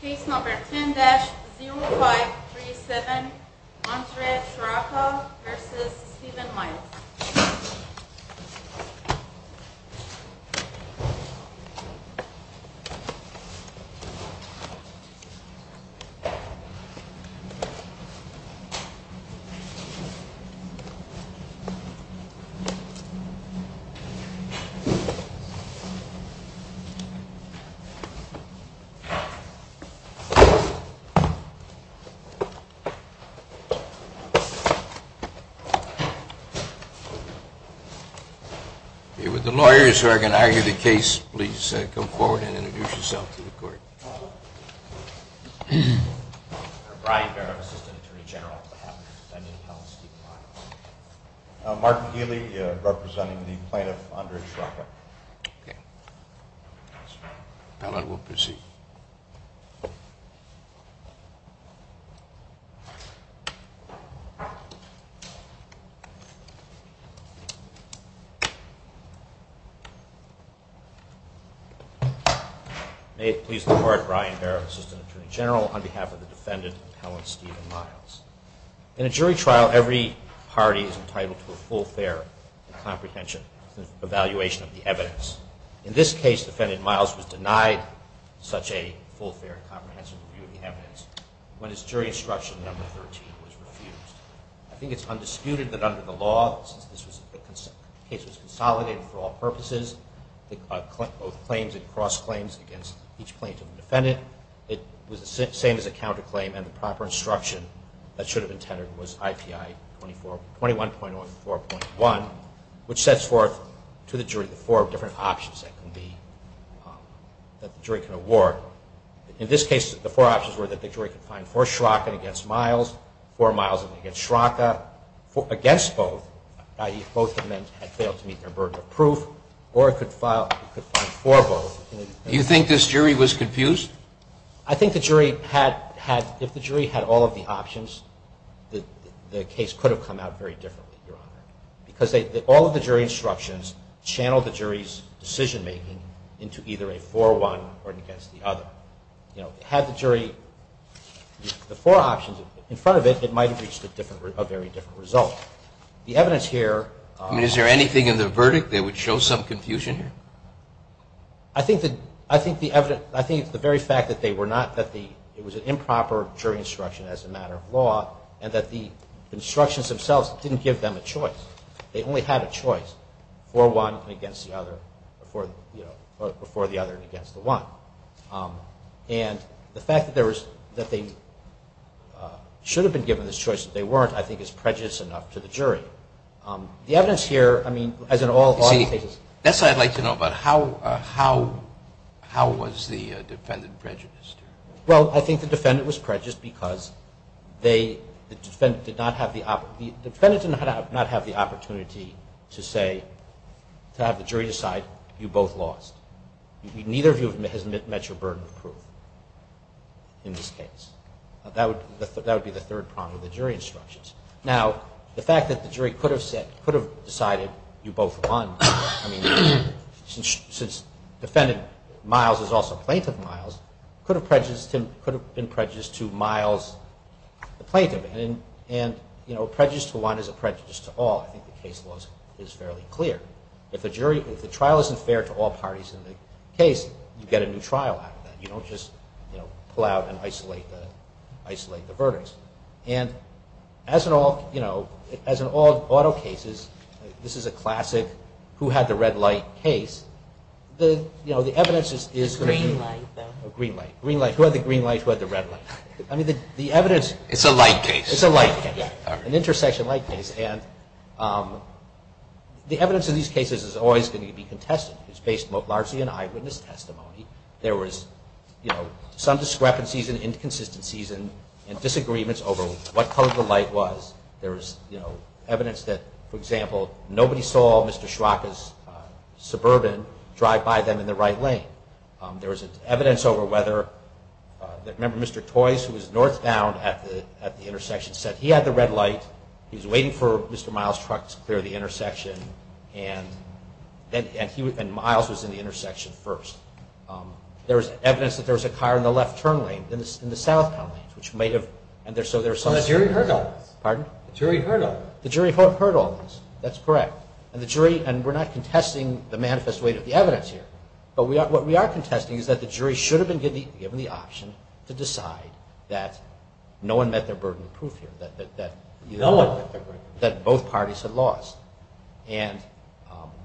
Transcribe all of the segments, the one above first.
Case number 10-0537 Montserrat-Chiraca v. Stephen Miles Would the lawyers who are going to argue the case please come forward and introduce yourself to the court. Brian Barrett, Assistant Attorney General. Martin Healy, representing the plaintiff under Chiraca. We'll proceed. May it please the Court, Brian Barrett, Assistant Attorney General, on behalf of the defendant, Helen Stephen Miles. In a jury trial, every party is entitled to a full, fair comprehension and evaluation of the evidence. In this case, defendant Miles was denied such a full, fair and comprehensive review of the evidence when his jury instruction number 13 was refused. I think it's undisputed that under the law, since the case was consolidated for all purposes, both claims and cross-claims against each plaintiff and defendant, it was the same as a counterclaim and the proper instruction that should have been tenored was IPI 21.04.1, which sets forth to the jury the four different options that the jury can award. In this case, the four options were that the jury could find for Chiraca against Miles, for Miles against Chiraca, against both, i.e. both had failed to meet their burden of proof, or it could find for both. Do you think this jury was confused? I think if the jury had all of the options, the case could have come out very differently, Your Honor, because all of the jury instructions channeled the jury's decision-making into either a for one or against the other. Had the jury the four options in front of it, it might have reached a very different result. Is there anything in the verdict that would show some confusion here? I think the very fact that it was an improper jury instruction as a matter of law and that the instructions themselves didn't give them a choice, they only had a choice, for one and against the other, or for the other and against the one. And the fact that they should have been given this choice and they weren't, I think is prejudiced enough to the jury. The evidence here, I mean, as in all other cases- That's what I'd like to know about. How was the defendant prejudiced? Well, I think the defendant was prejudiced because the defendant did not have the opportunity to say, to have the jury decide, you both lost. Neither of you has met your burden of proof in this case. That would be the third problem with the jury instructions. Now, the fact that the jury could have decided you both won, since the defendant, Miles, is also a plaintiff, Miles, could have been prejudiced to Miles, the plaintiff. And a prejudice to one is a prejudice to all. I think the case law is fairly clear. If the trial isn't fair to all parties in the case, you get a new trial out of that. You don't just pull out and isolate the verdicts. And as in all auto cases, this is a classic who had the red light case, the evidence is- Green light, though. Green light. Green light. Who had the green light, who had the red light. I mean, the evidence- It's a light case. It's a light case. An intersection light case. And the evidence in these cases is always going to be contested. It's based mostly on eyewitness testimony. There was, you know, some discrepancies and inconsistencies and disagreements over what color the light was. There was, you know, evidence that, for example, nobody saw Mr. Shrocka's Suburban drive by them in the right lane. There was evidence over whether- Remember, Mr. Toys, who was northbound at the intersection, said he had the red light, he was waiting for Mr. Miles' truck to clear the intersection, and Miles was in the intersection first. There was evidence that there was a car in the left turn lane, in the southbound lanes, which may have- So the jury heard all this. Pardon? The jury heard all this. The jury heard all this. That's correct. And the jury- And we're not contesting the manifest weight of the evidence here, but what we are contesting is that the jury should have been given the option to decide that no one met their burden of proof here, that both parties had lost. And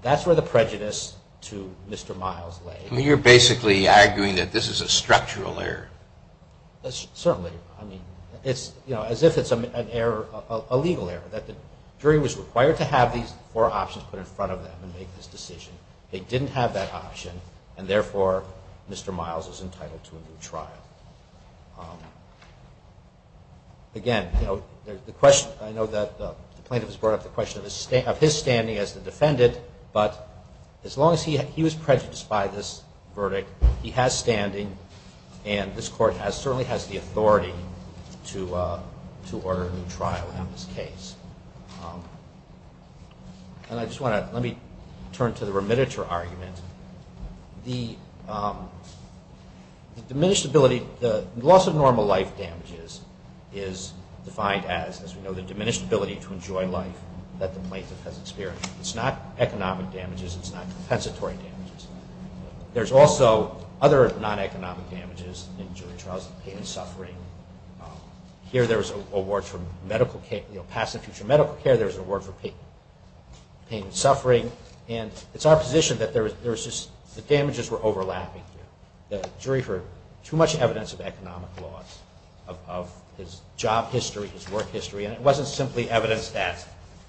that's where the prejudice to Mr. Miles lay. You're basically arguing that this is a structural error. Certainly. I mean, it's, you know, as if it's an error, a legal error, that the jury was required to have these four options put in front of them and make this decision. They didn't have that option, and therefore Mr. Miles was entitled to a new trial. Again, you know, the question- I know that the plaintiff has brought up the question of his standing as the defendant, but as long as he was prejudiced by this verdict, he has standing, and this Court certainly has the authority to order a new trial in this case. And I just want to- Let me turn to the remitter argument. The diminished ability- The loss of normal life damages is defined as, as we know, the diminished ability to enjoy life that the plaintiff has experienced. It's not economic damages. It's not compensatory damages. There's also other non-economic damages in jury trials, pain and suffering. Here there's a ward for medical care- you know, past and future medical care. There's a ward for pain and suffering. And it's our position that the damages were overlapping. The jury heard too much evidence of economic loss, of his job history, his work history, and it wasn't simply evidence that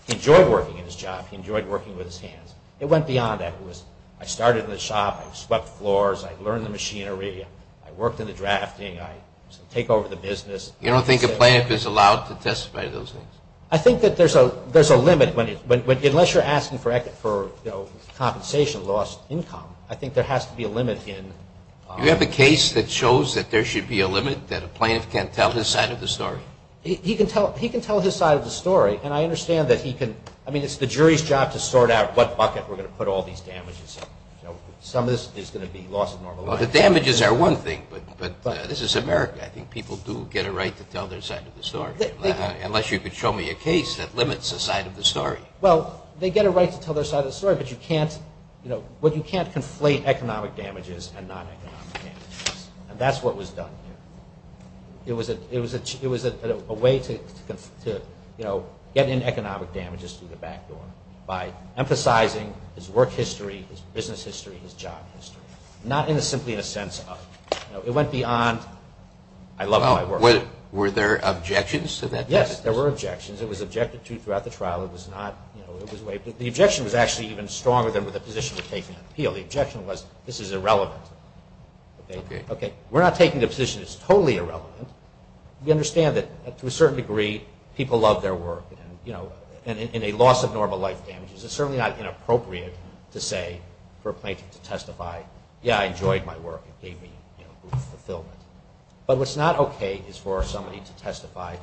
he enjoyed working in his job, he enjoyed working with his hands. It went beyond that. It was, I started in the shop, I swept floors, I learned the machinery, I worked in the drafting, I take over the business. You don't think a plaintiff is allowed to testify to those things? I think that there's a limit. Unless you're asking for compensation, lost income, I think there has to be a limit in- You have a case that shows that there should be a limit, that a plaintiff can't tell his side of the story? He can tell his side of the story, and I understand that he can- I mean, it's the jury's job to sort out what bucket we're going to put all these damages in. Some of this is going to be loss of normal life. Well, the damages are one thing, but this is America. I think people do get a right to tell their side of the story, unless you could show me a case that limits a side of the story. Well, they get a right to tell their side of the story, but you can't conflate economic damages and non-economic damages, and that's what was done here. It was a way to get in economic damages through the back door, by emphasizing his work history, his business history, his job history, not simply in a sense of, it went beyond, I love my work. Were there objections to that test? Yes, there were objections. It was objected to throughout the trial. The objection was actually even stronger than the position of taking an appeal. The objection was, this is irrelevant. We're not taking a position that's totally irrelevant. We understand that, to a certain degree, people love their work, and a loss of normal life damages is certainly not inappropriate to say for a plaintiff to testify, yeah, I enjoyed my work, it gave me fulfillment. But what's not okay is for somebody to testify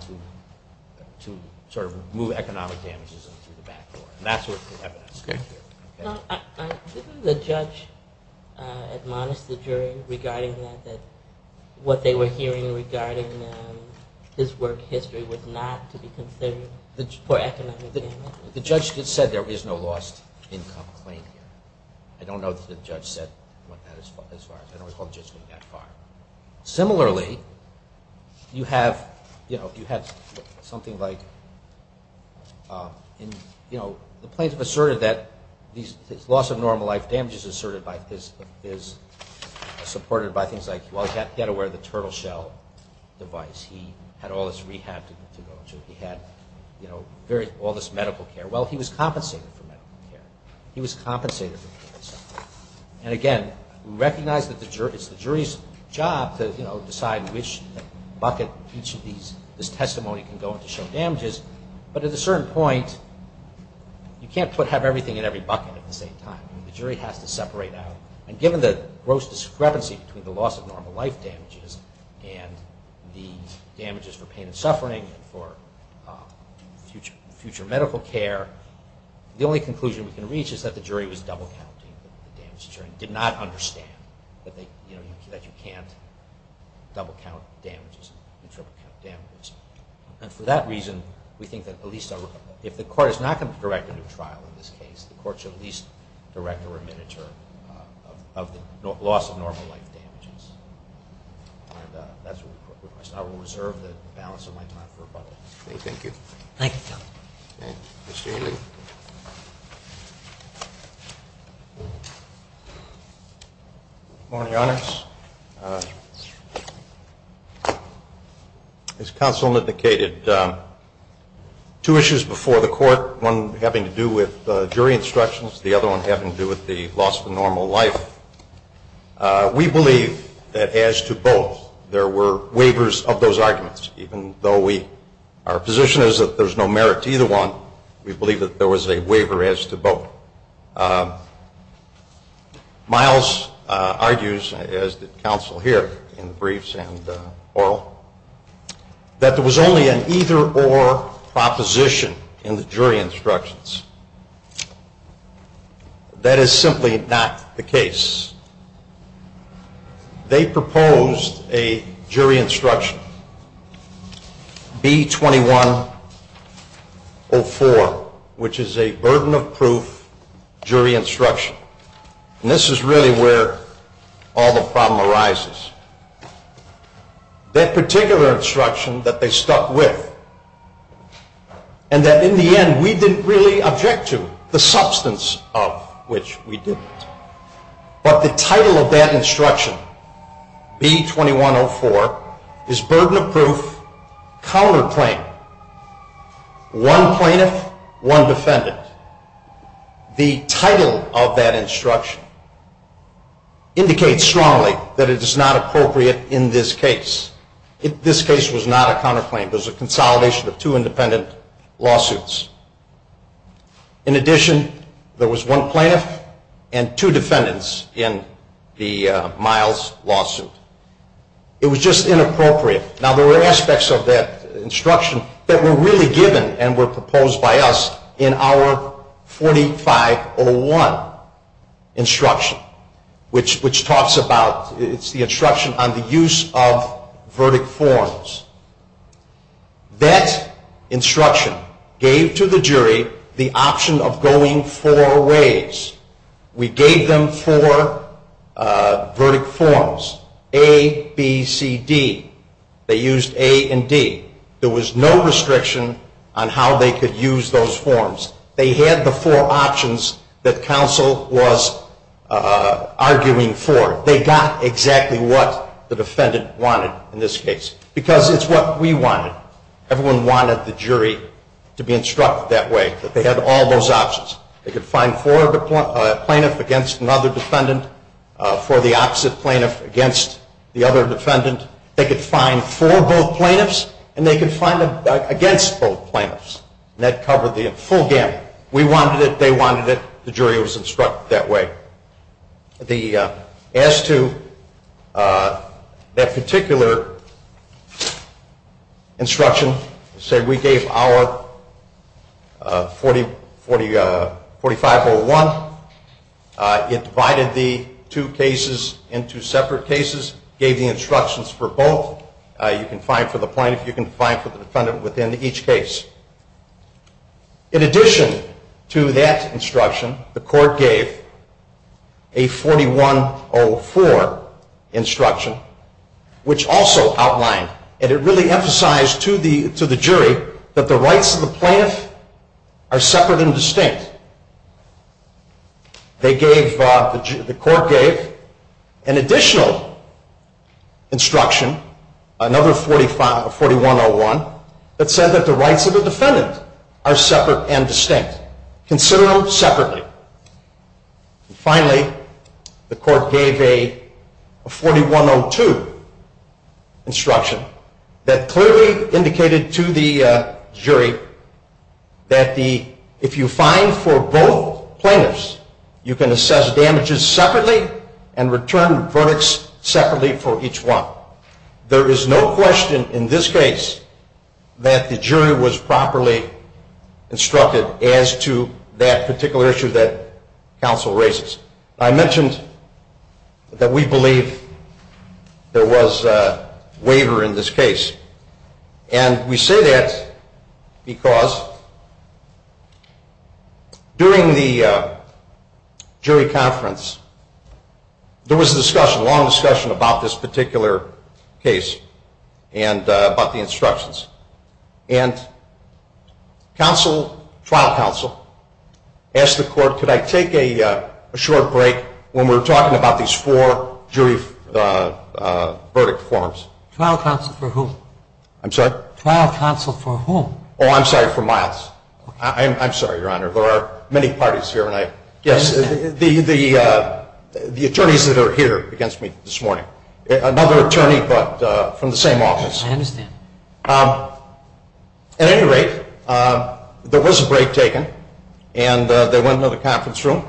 to sort of remove economic damages through the back door, and that's where the evidence comes in. Didn't the judge admonish the jury regarding that, that what they were hearing regarding his work history was not to be considered for economic damages? The judge said there is no lost income claim here. I don't know that the judge said that as far as I know. Similarly, you have something like the plaintiff asserted that this loss of normal life damages is supported by things like, he had to wear the turtle shell device, he had all this rehab to go to, he had all this medical care. Well, he was compensated for medical care. He was compensated for medical care. And again, we recognize that it's the jury's job to decide which bucket each of these testimonies can go in to show damages, but at a certain point you can't have everything in every bucket at the same time. The jury has to separate out, and given the gross discrepancy between the loss of normal life damages and the damages for pain and suffering and for future medical care, the only conclusion we can reach is that the jury was double counting the damages. The jury did not understand that you can't double count damages and triple count damages. And for that reason, we think that if the court is not going to direct a new trial in this case, the court should at least direct a remit of the loss of normal life damages. And that's what we request. I will reserve the balance of my time for rebuttal. Thank you. Thank you, Phil. Mr. Ailey. Good morning, Your Honors. As counsel indicated, two issues before the court, one having to do with jury instructions, the other one having to do with the loss of normal life. We believe that as to both, there were waivers of those arguments, even though our position is that there's no merit to either one, we believe that there was a waiver as to both. Miles argues, as did counsel here in briefs and oral, that there was only an either-or proposition in the jury instructions. That is simply not the case. They proposed a jury instruction, B2104, which is a burden of proof jury instruction. And this is really where all the problem arises. That particular instruction that they stuck with, and that in the end we didn't really object to, the substance of which we didn't. But the title of that instruction, B2104, is burden of proof, counterclaim. One plaintiff, one defendant. The title of that instruction indicates strongly that it is not appropriate in this case. This case was not a counterclaim. It was a consolidation of two independent lawsuits. In addition, there was one plaintiff and two defendants in the Miles lawsuit. It was just inappropriate. Now, there were aspects of that instruction that were really given and were proposed by us in our 4501 instruction, which talks about the instruction on the use of verdict forms. That instruction gave to the jury the option of going four ways. We gave them four verdict forms, A, B, C, D. They used A and D. There was no restriction on how they could use those forms. They had the four options that counsel was arguing for. They got exactly what the defendant wanted in this case. Because it's what we wanted. Everyone wanted the jury to be instructed that way, that they had all those options. They could find four plaintiffs against another defendant, for the opposite plaintiff against the other defendant. They could find four both plaintiffs, and they could find them against both plaintiffs. And that covered the full gamut. We wanted it. They wanted it. The jury was instructed that way. As to that particular instruction, we gave our 4501. It divided the two cases into separate cases, gave the instructions for both. You can find for the plaintiff. You can find for the defendant within each case. In addition to that instruction, the court gave a 4104 instruction, which also outlined, and it really emphasized to the jury that the rights of the plaintiff are separate and distinct. The court gave an additional instruction, another 4101, that said that the rights of the defendant are separate and distinct. Consider them separately. Finally, the court gave a 4102 instruction that clearly indicated to the jury that if you find for both plaintiffs, you can assess damages separately and return verdicts separately for each one. Now, there is no question in this case that the jury was properly instructed as to that particular issue that counsel raises. I mentioned that we believe there was a waiver in this case. And we say that because during the jury conference, there was a discussion, a long discussion about this particular case and about the instructions. And trial counsel asked the court, could I take a short break when we're talking about these four jury verdict forms? Trial counsel for whom? I'm sorry? Trial counsel for whom? Oh, I'm sorry, for Miles. I'm sorry, Your Honor. There are many parties here. Yes, the attorneys that are here against me this morning. Another attorney, but from the same office. I understand. At any rate, there was a break taken, and they went into the conference room.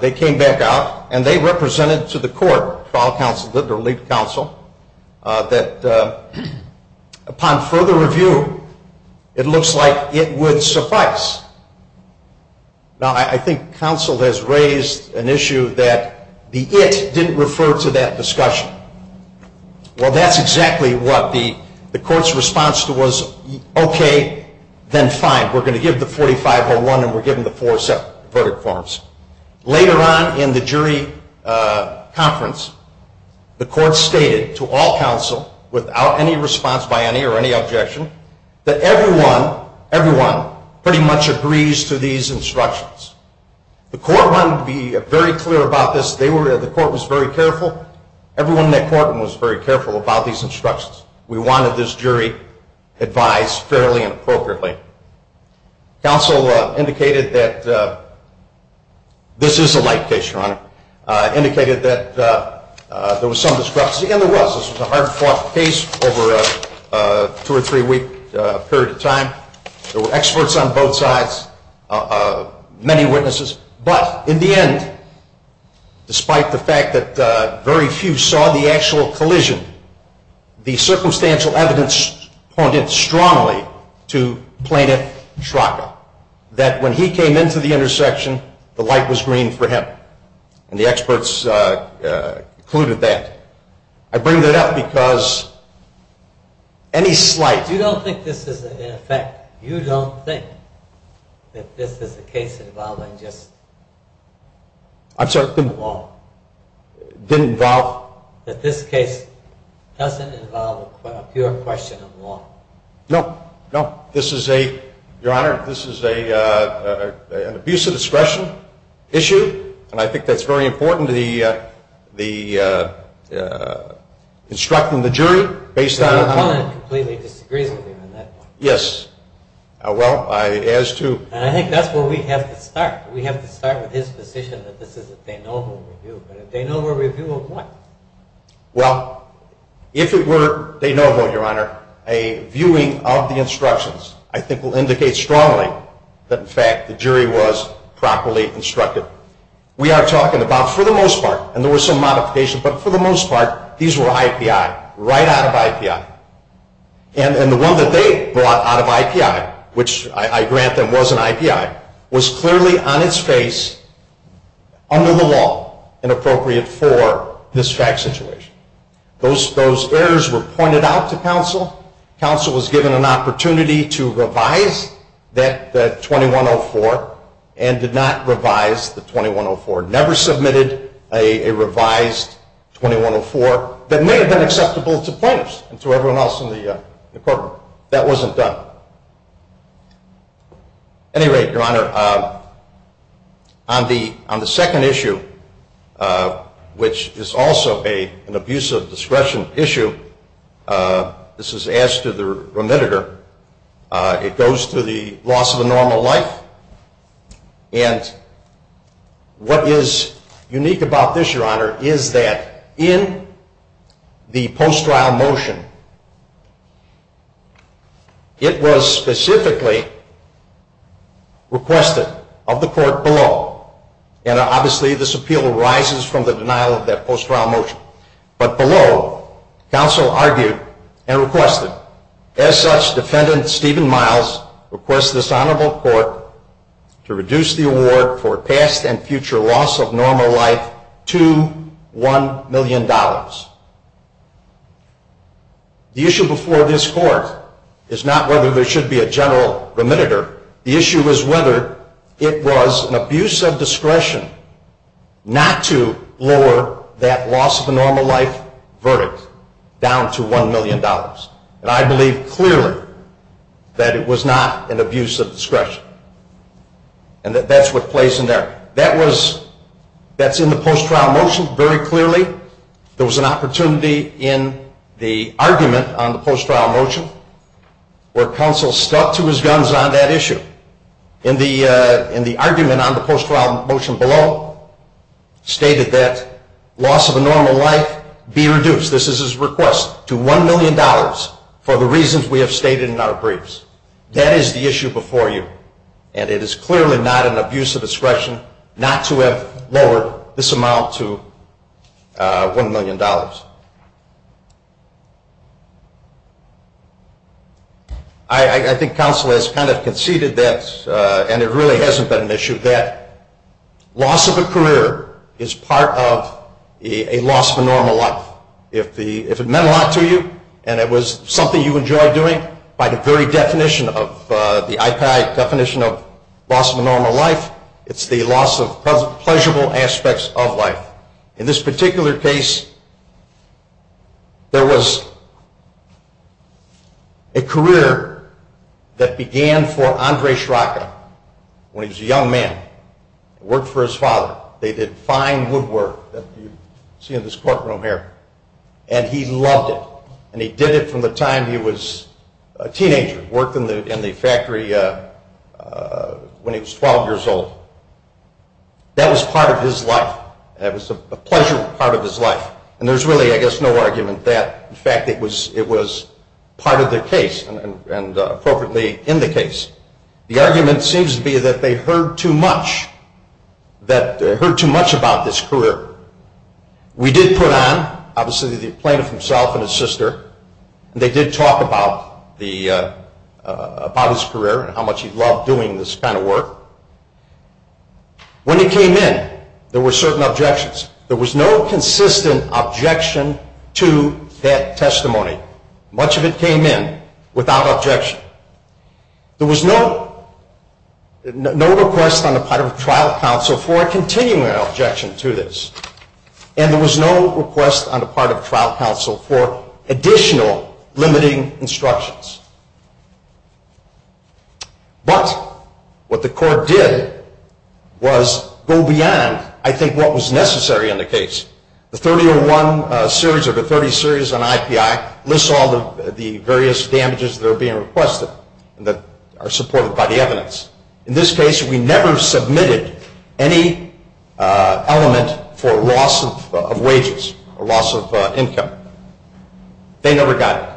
They came back out, and they represented to the court, trial counsel or lead counsel, that upon further review, it looks like it would suffice. Now, I think counsel has raised an issue that the it didn't refer to that discussion. Well, that's exactly what the court's response was, okay, then fine. We're going to give the 4501, and we're giving the four separate verdict forms. Later on in the jury conference, the court stated to all counsel, without any response by any or any objection, that everyone pretty much agrees to these instructions. The court wanted to be very clear about this. The court was very careful. Everyone in that courtroom was very careful about these instructions. We wanted this jury advised fairly and appropriately. Counsel indicated that this is a light case, Your Honor, indicated that there was some discrepancy. And there was. This was a hard-fought case over a two- or three-week period of time. There were experts on both sides, many witnesses. But in the end, despite the fact that very few saw the actual collision, the circumstantial evidence pointed strongly to Plaintiff Schrocker, that when he came into the intersection, the light was green for him. And the experts concluded that. I bring that up because any slight... You don't think this is in effect. You don't think that this is a case involving just... I'm sorry? Law. Didn't involve... That this case doesn't involve a pure question of law. No. No. This is a, Your Honor, this is an abuse of discretion issue. And I think that's very important, the instructing the jury based on... Yes. Well, as to... I think that's where we have to start. We have to start with his position that this is a de novo review. But a de novo review of what? Well, if it were de novo, Your Honor, a viewing of the instructions, I think will indicate strongly that, in fact, the jury was properly instructed. We are talking about, for the most part, and there was some modification, but for the most part, these were IPI, right out of IPI. And the one that they brought out of IPI, which I grant them was an IPI, was clearly on its face under the law and appropriate for this fact situation. Those errors were pointed out to counsel. Counsel was given an opportunity to revise that 2104 and did not revise the 2104. Never submitted a revised 2104 that may have been acceptable to plaintiffs and to everyone else in the courtroom. That wasn't done. At any rate, Your Honor, on the second issue, which is also an abuse of discretion issue, this is asked to the remitter. It goes to the loss of a normal life. And what is unique about this, Your Honor, is that in the post-trial motion, it was specifically requested of the court below. And obviously, this appeal arises from the denial of that post-trial motion. But below, counsel argued and requested, As such, Defendant Stephen Miles requests this honorable court to reduce the award for past and future loss of normal life to $1 million. The issue before this court is not whether there should be a general remitter. The issue is whether it was an abuse of discretion not to lower that loss of a normal life verdict down to $1 million. And I believe clearly that it was not an abuse of discretion. And that's what plays in there. That's in the post-trial motion very clearly. There was an opportunity in the argument on the post-trial motion where counsel stuck to his guns on that issue. In the argument on the post-trial motion below, stated that loss of a normal life be reduced, this is his request, to $1 million for the reasons we have stated in our briefs. That is the issue before you. And it is clearly not an abuse of discretion not to have lowered this amount to $1 million. I think counsel has kind of conceded that, and it really hasn't been an issue, that loss of a career is part of a loss of a normal life. If it meant a lot to you and it was something you enjoyed doing, by the very definition of the IPI definition of loss of a normal life, it's the loss of pleasurable aspects of life. In this particular case, there was a career that began for Andre Scirocco when he was a young man. He worked for his father. They did fine woodwork that you see in this courtroom here, and he loved it. And he did it from the time he was a teenager, worked in the factory when he was 12 years old. That was part of his life. It was a pleasurable part of his life. And there's really, I guess, no argument that, in fact, it was part of the case and appropriately in the case. The argument seems to be that they heard too much about this career. We did put on, obviously, the plaintiff himself and his sister, and they did talk about his career and how much he loved doing this kind of work. When it came in, there were certain objections. There was no consistent objection to that testimony. Much of it came in without objection. There was no request on the part of a trial counsel for a continuing objection to this, and there was no request on the part of a trial counsel for additional limiting instructions. But what the court did was go beyond, I think, what was necessary in the case. The 3001 series or the 30 series on IPI lists all of the various damages that are being requested and that are supported by the evidence. In this case, we never submitted any element for loss of wages or loss of income. They never got it.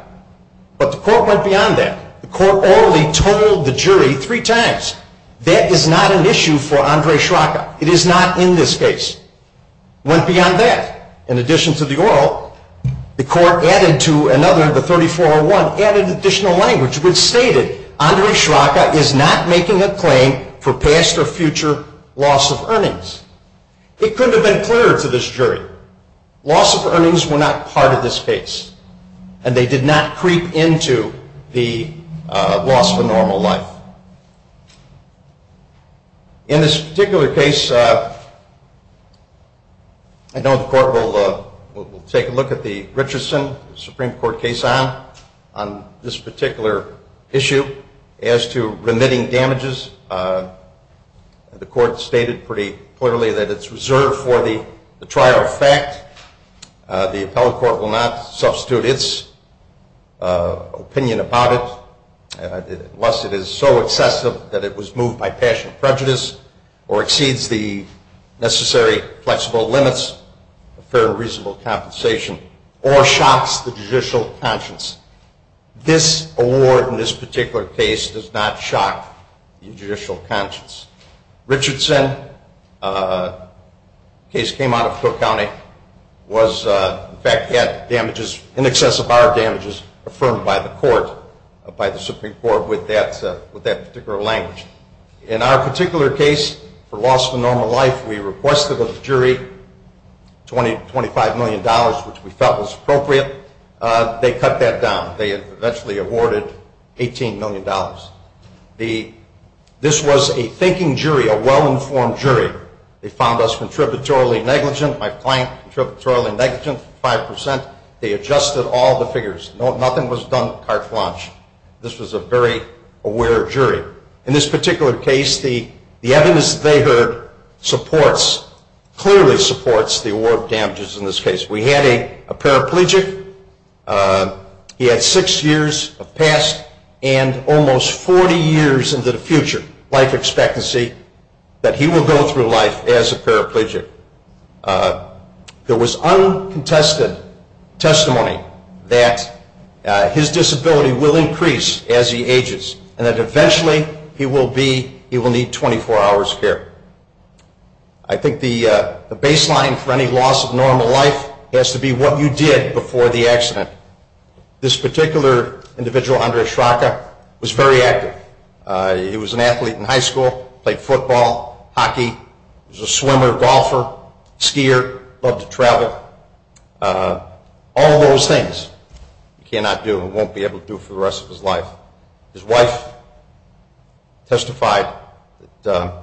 But the court went beyond that. The court orally told the jury three times, that is not an issue for Andre Schraka. It is not in this case. It went beyond that. In addition to the oral, the court added to another, the 3401, added additional language which stated, Andre Schraka is not making a claim for past or future loss of earnings. It couldn't have been clearer to this jury. Loss of earnings were not part of this case, and they did not creep into the loss of a normal life. In this particular case, I know the court will take a look at the Richardson Supreme Court case on this particular issue as to remitting damages. The court stated pretty clearly that it's reserved for the trial effect. The appellate court will not substitute its opinion about it, unless it is so excessive that it was moved by passion and prejudice or exceeds the necessary flexible limits of fair and reasonable compensation or shocks the judicial conscience. This award in this particular case does not shock the judicial conscience. Richardson case came out of Cook County, was, in fact, had damages in excess of our damages affirmed by the court, by the Supreme Court with that particular language. In our particular case, for loss of a normal life, we requested of the jury $25 million, which we felt was appropriate. They cut that down. They eventually awarded $18 million. This was a thinking jury, a well-informed jury. They found us contributorily negligent. My client, contributorily negligent, 5%. They adjusted all the figures. Nothing was done carte blanche. This was a very aware jury. In this particular case, the evidence they heard supports, clearly supports the award of damages in this case. We had a paraplegic. He had six years of past and almost 40 years into the future life expectancy that he will go through life as a paraplegic. There was uncontested testimony that his disability will increase as he ages and that eventually he will need 24 hours of care. I think the baseline for any loss of normal life has to be what you did before the accident. This particular individual, Andres Schraka, was very active. He was an athlete in high school, played football, hockey. He was a swimmer, golfer, skier, loved to travel. All of those things you cannot do and won't be able to do for the rest of his life. His wife testified that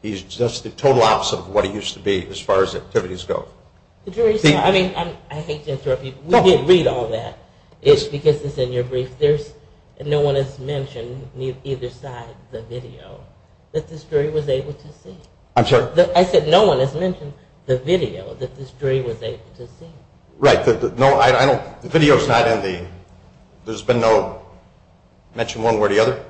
he's just the total opposite of what he used to be as far as activities go. I hate to interrupt you. We did read all that because it's in your brief. No one has mentioned either side of the video that this jury was able to see. I'm sorry? I said no one has mentioned the video that this jury was able to see. Right. The video is not in the – there's been no mention one way or the other?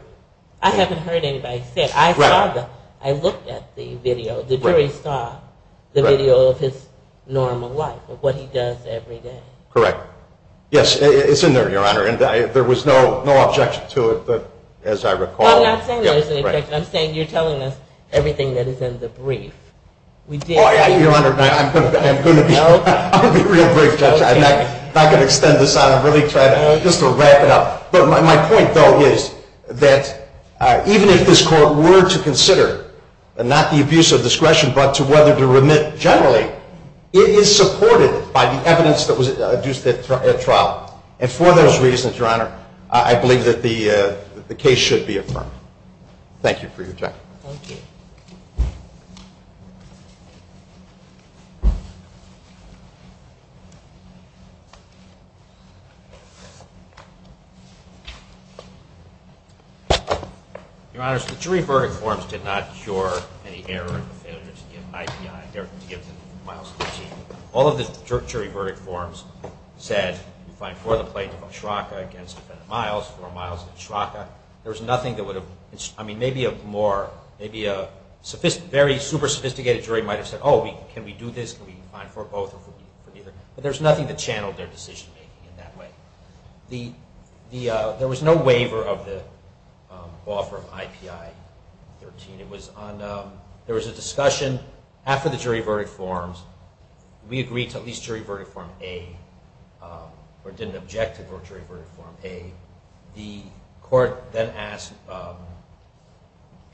I haven't heard anybody say it. I looked at the video. The jury saw the video of his normal life, of what he does every day. Correct. Yes, it's in there, Your Honor, and there was no objection to it as I recall. No, I'm not saying there's an objection. I'm saying you're telling us everything that is in the brief. Your Honor, I'm going to be real brief, Judge. I'm not going to extend this out. I'm really trying just to wrap it up. But my point, though, is that even if this court were to consider not the abuse of discretion but to whether to remit generally, it is supported by the evidence that was adduced at trial. And for those reasons, Your Honor, I believe that the case should be affirmed. Thank you for your time. Thank you. Your Honor, the jury verdict forms did not cure any error or failure to give IPI, error to give the miles to the chief. All of the jury verdict forms said, you find four of the plaintiff of Oshraka against defendant Miles, four miles to Oshraka. There was nothing that would have, I mean, maybe a more, maybe a very super sophisticated jury might have said, oh, can we do this, can we find four both or four neither. But there was nothing that channeled their decision-making in that way. There was no waiver of the offer of IPI-13. There was a discussion after the jury verdict forms. We agreed to at least jury verdict form A or didn't object to jury verdict form A. The court then asked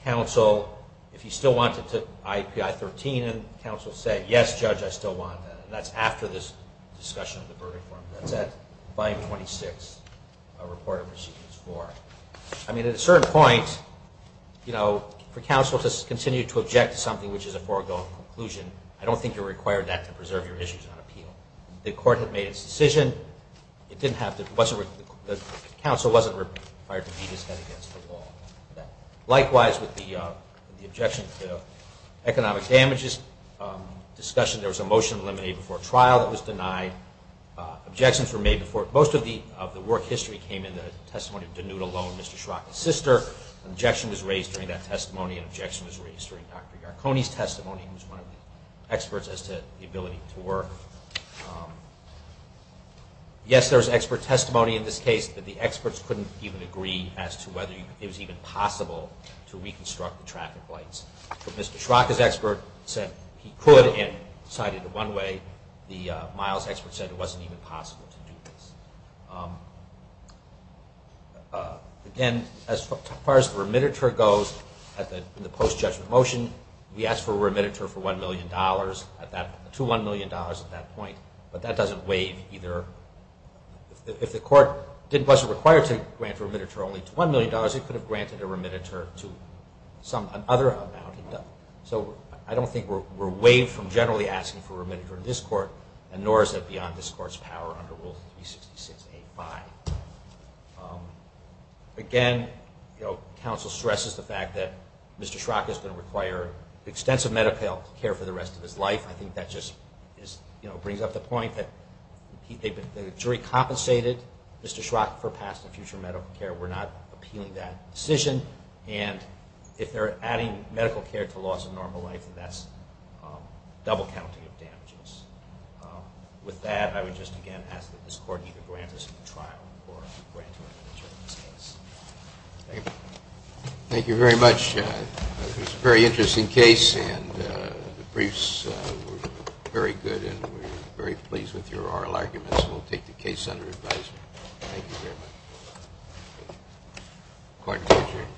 counsel if he still wanted to IPI-13, and counsel said, yes, judge, I still want that. And that's after this discussion of the verdict form. That's at 526, reporter proceedings four. I mean, at a certain point, you know, for counsel to continue to object to something which is a foregone conclusion, I don't think you're required that to preserve your issues on appeal. The court had made its decision. It didn't have to, the counsel wasn't required to beat his head against the wall. Likewise, with the objection to economic damages discussion, there was a motion to eliminate before trial that was denied. Objections were made before, most of the work history came in the testimony of Danuta Lowe and Mr. Schrock's sister. An objection was raised during that testimony. An objection was raised during Dr. Garconi's testimony, who was one of the experts as to the ability to work. Yes, there was expert testimony in this case, but the experts couldn't even agree as to whether it was even possible to reconstruct the traffic lights. But Mr. Schrock, his expert, said he could and decided it one way. The Miles expert said it wasn't even possible to do this. Again, as far as the remittiture goes, in the post-judgment motion, we asked for a remittiture for $1 million, to $1 million at that point. But that doesn't waive either. If the court wasn't required to grant a remittiture only to $1 million, it could have granted a remittiture to some other amount. So I don't think we're waived from generally asking for a remittiture in this court, and nor is it beyond this court's power under Rule 366.8.5. Again, counsel stresses the fact that Mr. Schrock is going to require extensive medical care for the rest of his life. I think that just brings up the point that the jury compensated Mr. Schrock for past and future medical care. We're not appealing that decision. And if they're adding medical care to loss of normal life, then that's double counting of damages. With that, I would just again ask that this court either grant us a trial or grant a remittiture in this case. Thank you very much. It was a very interesting case, and the briefs were very good, and we're very pleased with your oral arguments. We'll take the case under advisory. Thank you very much. Court is adjourned.